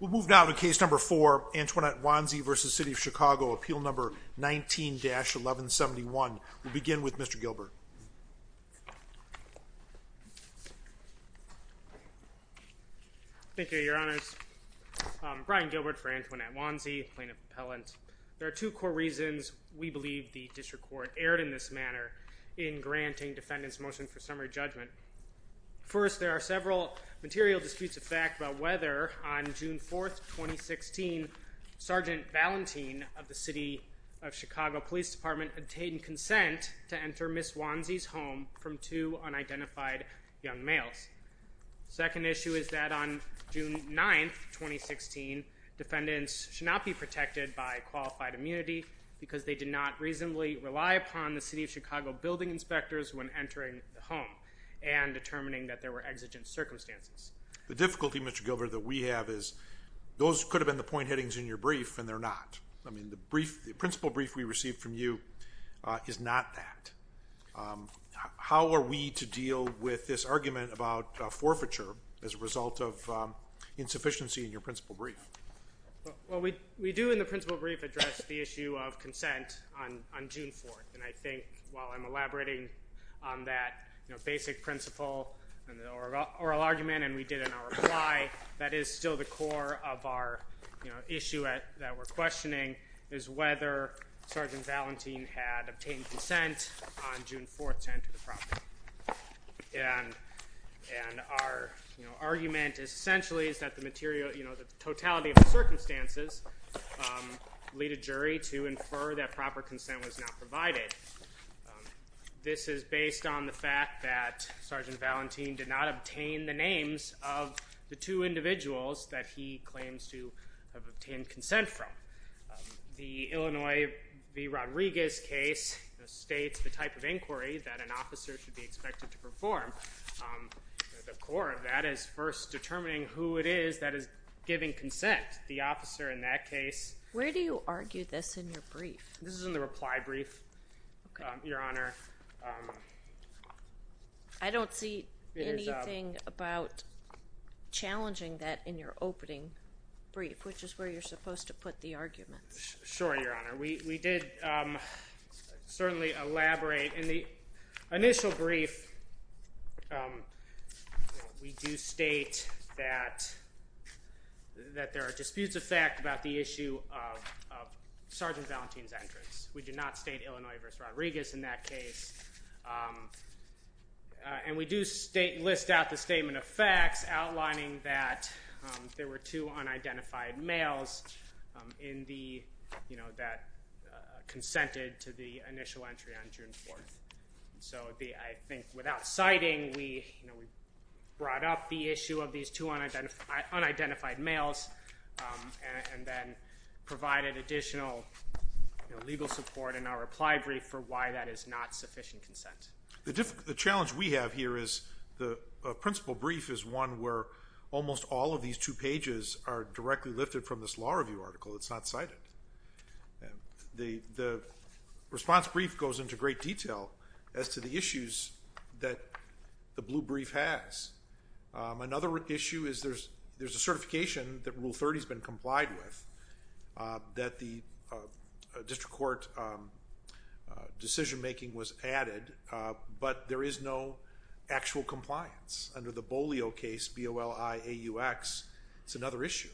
We'll move now to case number four, Antoinette Wonsey v. City of Chicago. Appeal number 19-1171. We'll begin with Mr. Gilbert. Thank you, Your Honors. Brian Gilbert for Antoinette Wonsey, Plaintiff Appellant. There are two core reasons we believe the District Court erred in this manner in granting defendants' motion for summary judgment. First, there are several material disputes of fact about whether, on June 4th, 2016, Sgt. Valentin of the City of Chicago Police Department obtained consent to enter Ms. Wonsey's home from two unidentified young males. Second issue is that on June 9th, 2016, defendants should not be protected by qualified immunity because they did not reasonably rely upon the City of Chicago building inspectors when entering the home. And determining that there were exigent circumstances. The difficulty, Mr. Gilbert, that we have is those could have been the point headings in your brief, and they're not. I mean, the principle brief we received from you is not that. How are we to deal with this argument about forfeiture as a result of insufficiency in your principle brief? Well, we do in the principle brief address the issue of consent on June 4th. And I think while I'm elaborating on that basic principle in the oral argument and we did in our reply, that is still the core of our issue that we're questioning is whether Sgt. Valentin had obtained consent on June 4th to enter the property. And our argument essentially is that the totality of the circumstances lead a jury to infer that proper consent was not provided. This is based on the fact that Sgt. Valentin did not obtain the names of the two individuals that he claims to have obtained consent from. The Illinois v. Rodriguez case states the type of inquiry that an officer should be expected to perform. The core of that is first determining who it is that is giving consent. The officer in that case. Where do you argue this in your brief? This is in the reply brief, Your Honor. I don't see anything about challenging that in your opening brief, which is where you're supposed to put the arguments. Sure, Your Honor. We did certainly elaborate in the initial brief. We do state that there are disputes of fact about the issue of Sgt. Valentin's entrance. We do not state Illinois v. Rodriguez in that case. And we do list out the statement of facts outlining that there were two unidentified males that consented to the initial entry on June 4th. So I think without citing, we brought up the issue of these two unidentified males and then provided additional legal support in our reply brief for why that is not sufficient consent. The challenge we have here is the principal brief is one where almost all of these two pages are directly lifted from this law review article. It's not cited. The response brief goes into great detail as to the issues that the blue brief has. Another issue is there's a certification that Rule 30 has been complied with that the district court decision making was added, but there is no actual compliance under the Bolio case, B-O-L-I-A-U-X. It's another issue.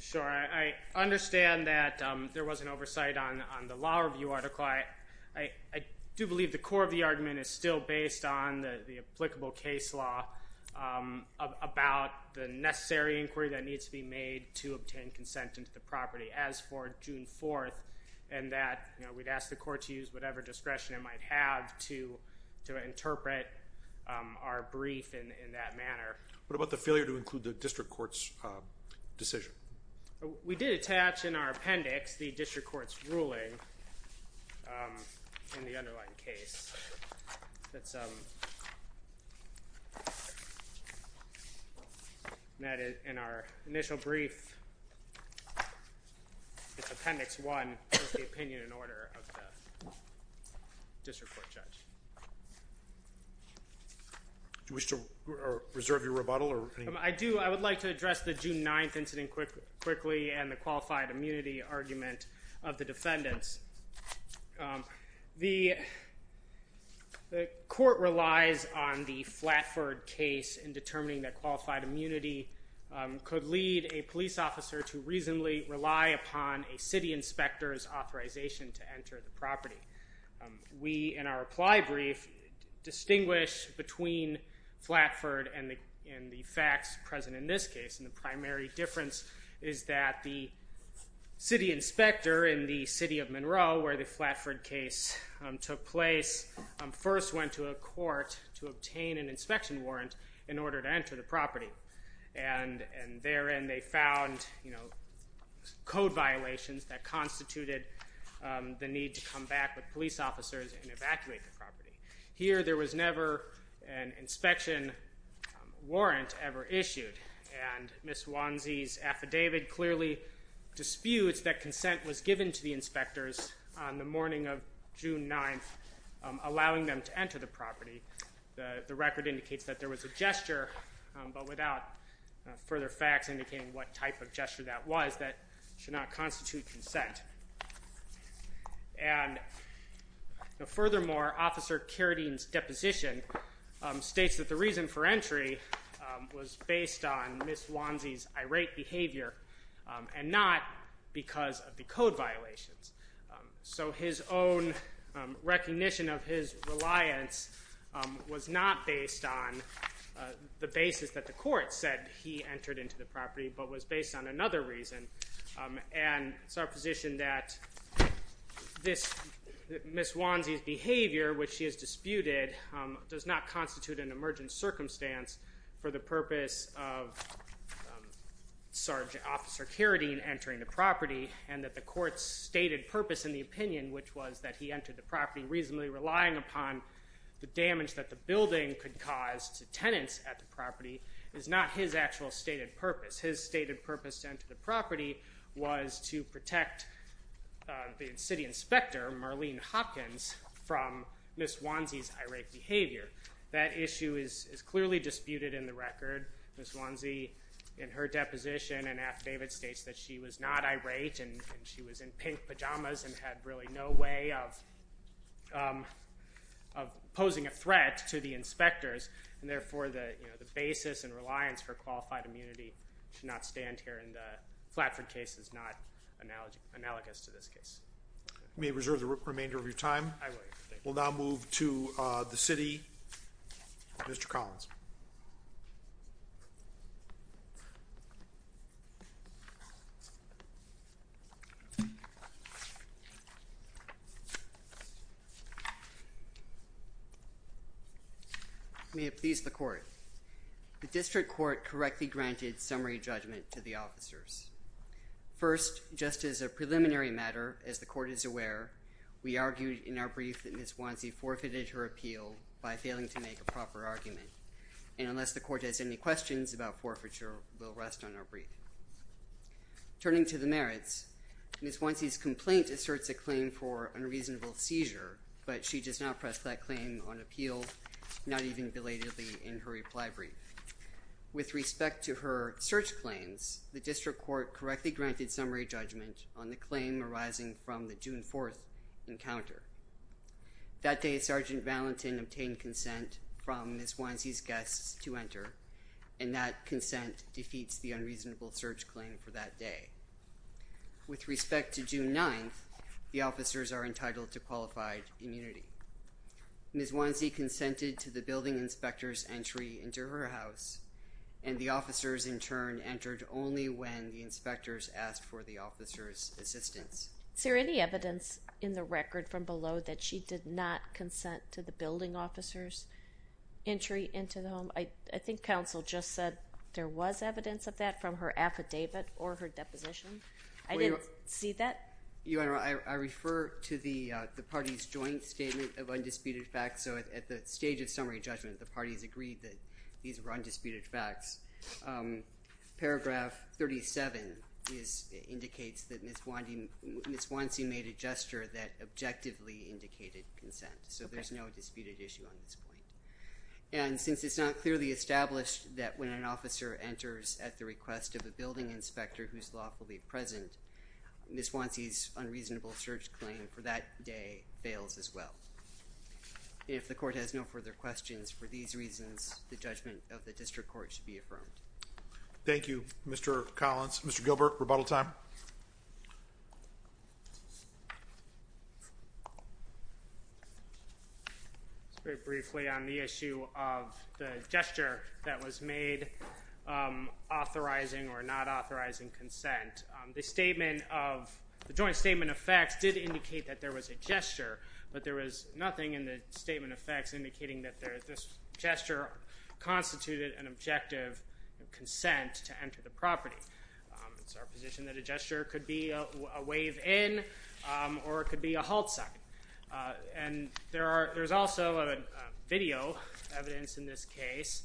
Sure. I understand that there was an oversight on the law review article. I do believe the core of the argument is still based on the applicable case law about the necessary inquiry that needs to be made to obtain consent into the property as for June 4th and that we'd ask the court to use whatever discretion it might have to interpret our brief in that manner. What about the failure to include the district court's decision? We did attach in our appendix the district court's ruling in the underlying case that's met in our initial brief. It's Appendix 1 with the opinion and order of the district court judge. Do you wish to reserve your rebuttal? I do. I would like to address the June 9th incident quickly and the qualified immunity argument of the defendants. The court relies on the Flatford case in determining that qualified immunity could lead a police officer to reasonably rely upon a city inspector's authorization to enter the property. We, in our reply brief, distinguish between Flatford and the facts present in this case. The primary difference is that the city inspector in the city of Monroe where the Flatford case took place first went to a court to obtain an inspection warrant in order to enter the property. Therein they found code violations that constituted the need to come back with police officers and evacuate the property. Here there was never an inspection warrant ever issued. Ms. Wanzi's affidavit clearly disputes that consent was given to the inspectors on the morning of June 9th allowing them to enter the property. The record indicates that there was a gesture, but without further facts indicating what type of gesture that was, that should not constitute consent. And furthermore, Officer Carradine's deposition states that the reason for entry was based on Ms. Wanzi's irate behavior and not because of the code violations. So his own recognition of his reliance was not based on the basis that the court said he entered into the property, but was based on another reason. And it's our position that Ms. Wanzi's behavior, which she has disputed, does not constitute an emergent circumstance for the purpose of Officer Carradine entering the property and that the court's stated purpose in the opinion, which was that he entered the property reasonably relying upon the damage that the building could cause to tenants at the property, is not his actual stated purpose. His stated purpose to enter the property was to protect the city inspector, Marlene Hopkins, from Ms. Wanzi's irate behavior. Ms. Wanzi, in her deposition in Aft David, states that she was not irate and she was in pink pajamas and had really no way of posing a threat to the inspectors, and therefore the basis and reliance for qualified immunity should not stand here, and the Flatford case is not analogous to this case. You may reserve the remainder of your time. I will. We'll now move to the city. Mr. Collins. May it please the court. The district court correctly granted summary judgment to the officers. First, just as a preliminary matter, as the court is aware, we argued in our brief that Ms. Wanzi forfeited her appeal by failing to make a proper argument, and unless the court has any questions about forfeiture, we'll rest on our brief. Turning to the merits, Ms. Wanzi's complaint asserts a claim for unreasonable seizure, but she does not press that claim on appeal, not even belatedly in her reply brief. With respect to her search claims, the district court correctly granted summary judgment on the claim arising from the June 4th encounter. That day, Sergeant Valentin obtained consent from Ms. Wanzi's guests to enter, and that consent defeats the unreasonable search claim for that day. With respect to June 9th, the officers are entitled to qualified immunity. Ms. Wanzi consented to the building inspector's entry into her house, and the officers in turn entered only when the inspectors asked for the officers' assistance. Is there any evidence in the record from below that she did not consent to the building officer's entry into the home? I think counsel just said there was evidence of that from her affidavit or her deposition. I didn't see that. Your Honor, I refer to the party's joint statement of undisputed facts, so at the stage of summary judgment, the parties agreed that these were undisputed facts. Paragraph 37 indicates that Ms. Wanzi made a gesture that objectively indicated consent, so there's no disputed issue on this point. And since it's not clearly established that when an officer enters at the request of a building inspector whose lawfully present, Ms. Wanzi's unreasonable search claim for that day fails as well. If the court has no further questions for these reasons, the judgment of the district court should be affirmed. Thank you, Mr. Collins. Mr. Gilbert, rebuttal time. Very briefly on the issue of the gesture that was made, authorizing or not authorizing consent. The statement of the joint statement of facts did indicate that there was a gesture, but there was nothing in the statement of facts indicating that this gesture constituted an objective consent to enter the property. It's our position that a gesture could be a wave in or it could be a halt sign. And there's also video evidence in this case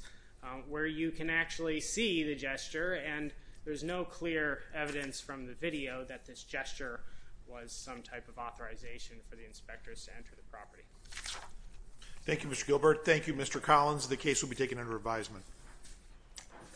where you can actually see the gesture, and there's no clear evidence from the video that this gesture was some type of authorization for the inspectors to enter the property. Thank you, Mr. Gilbert. Thank you, Mr. Collins. The case will be taken under advisement.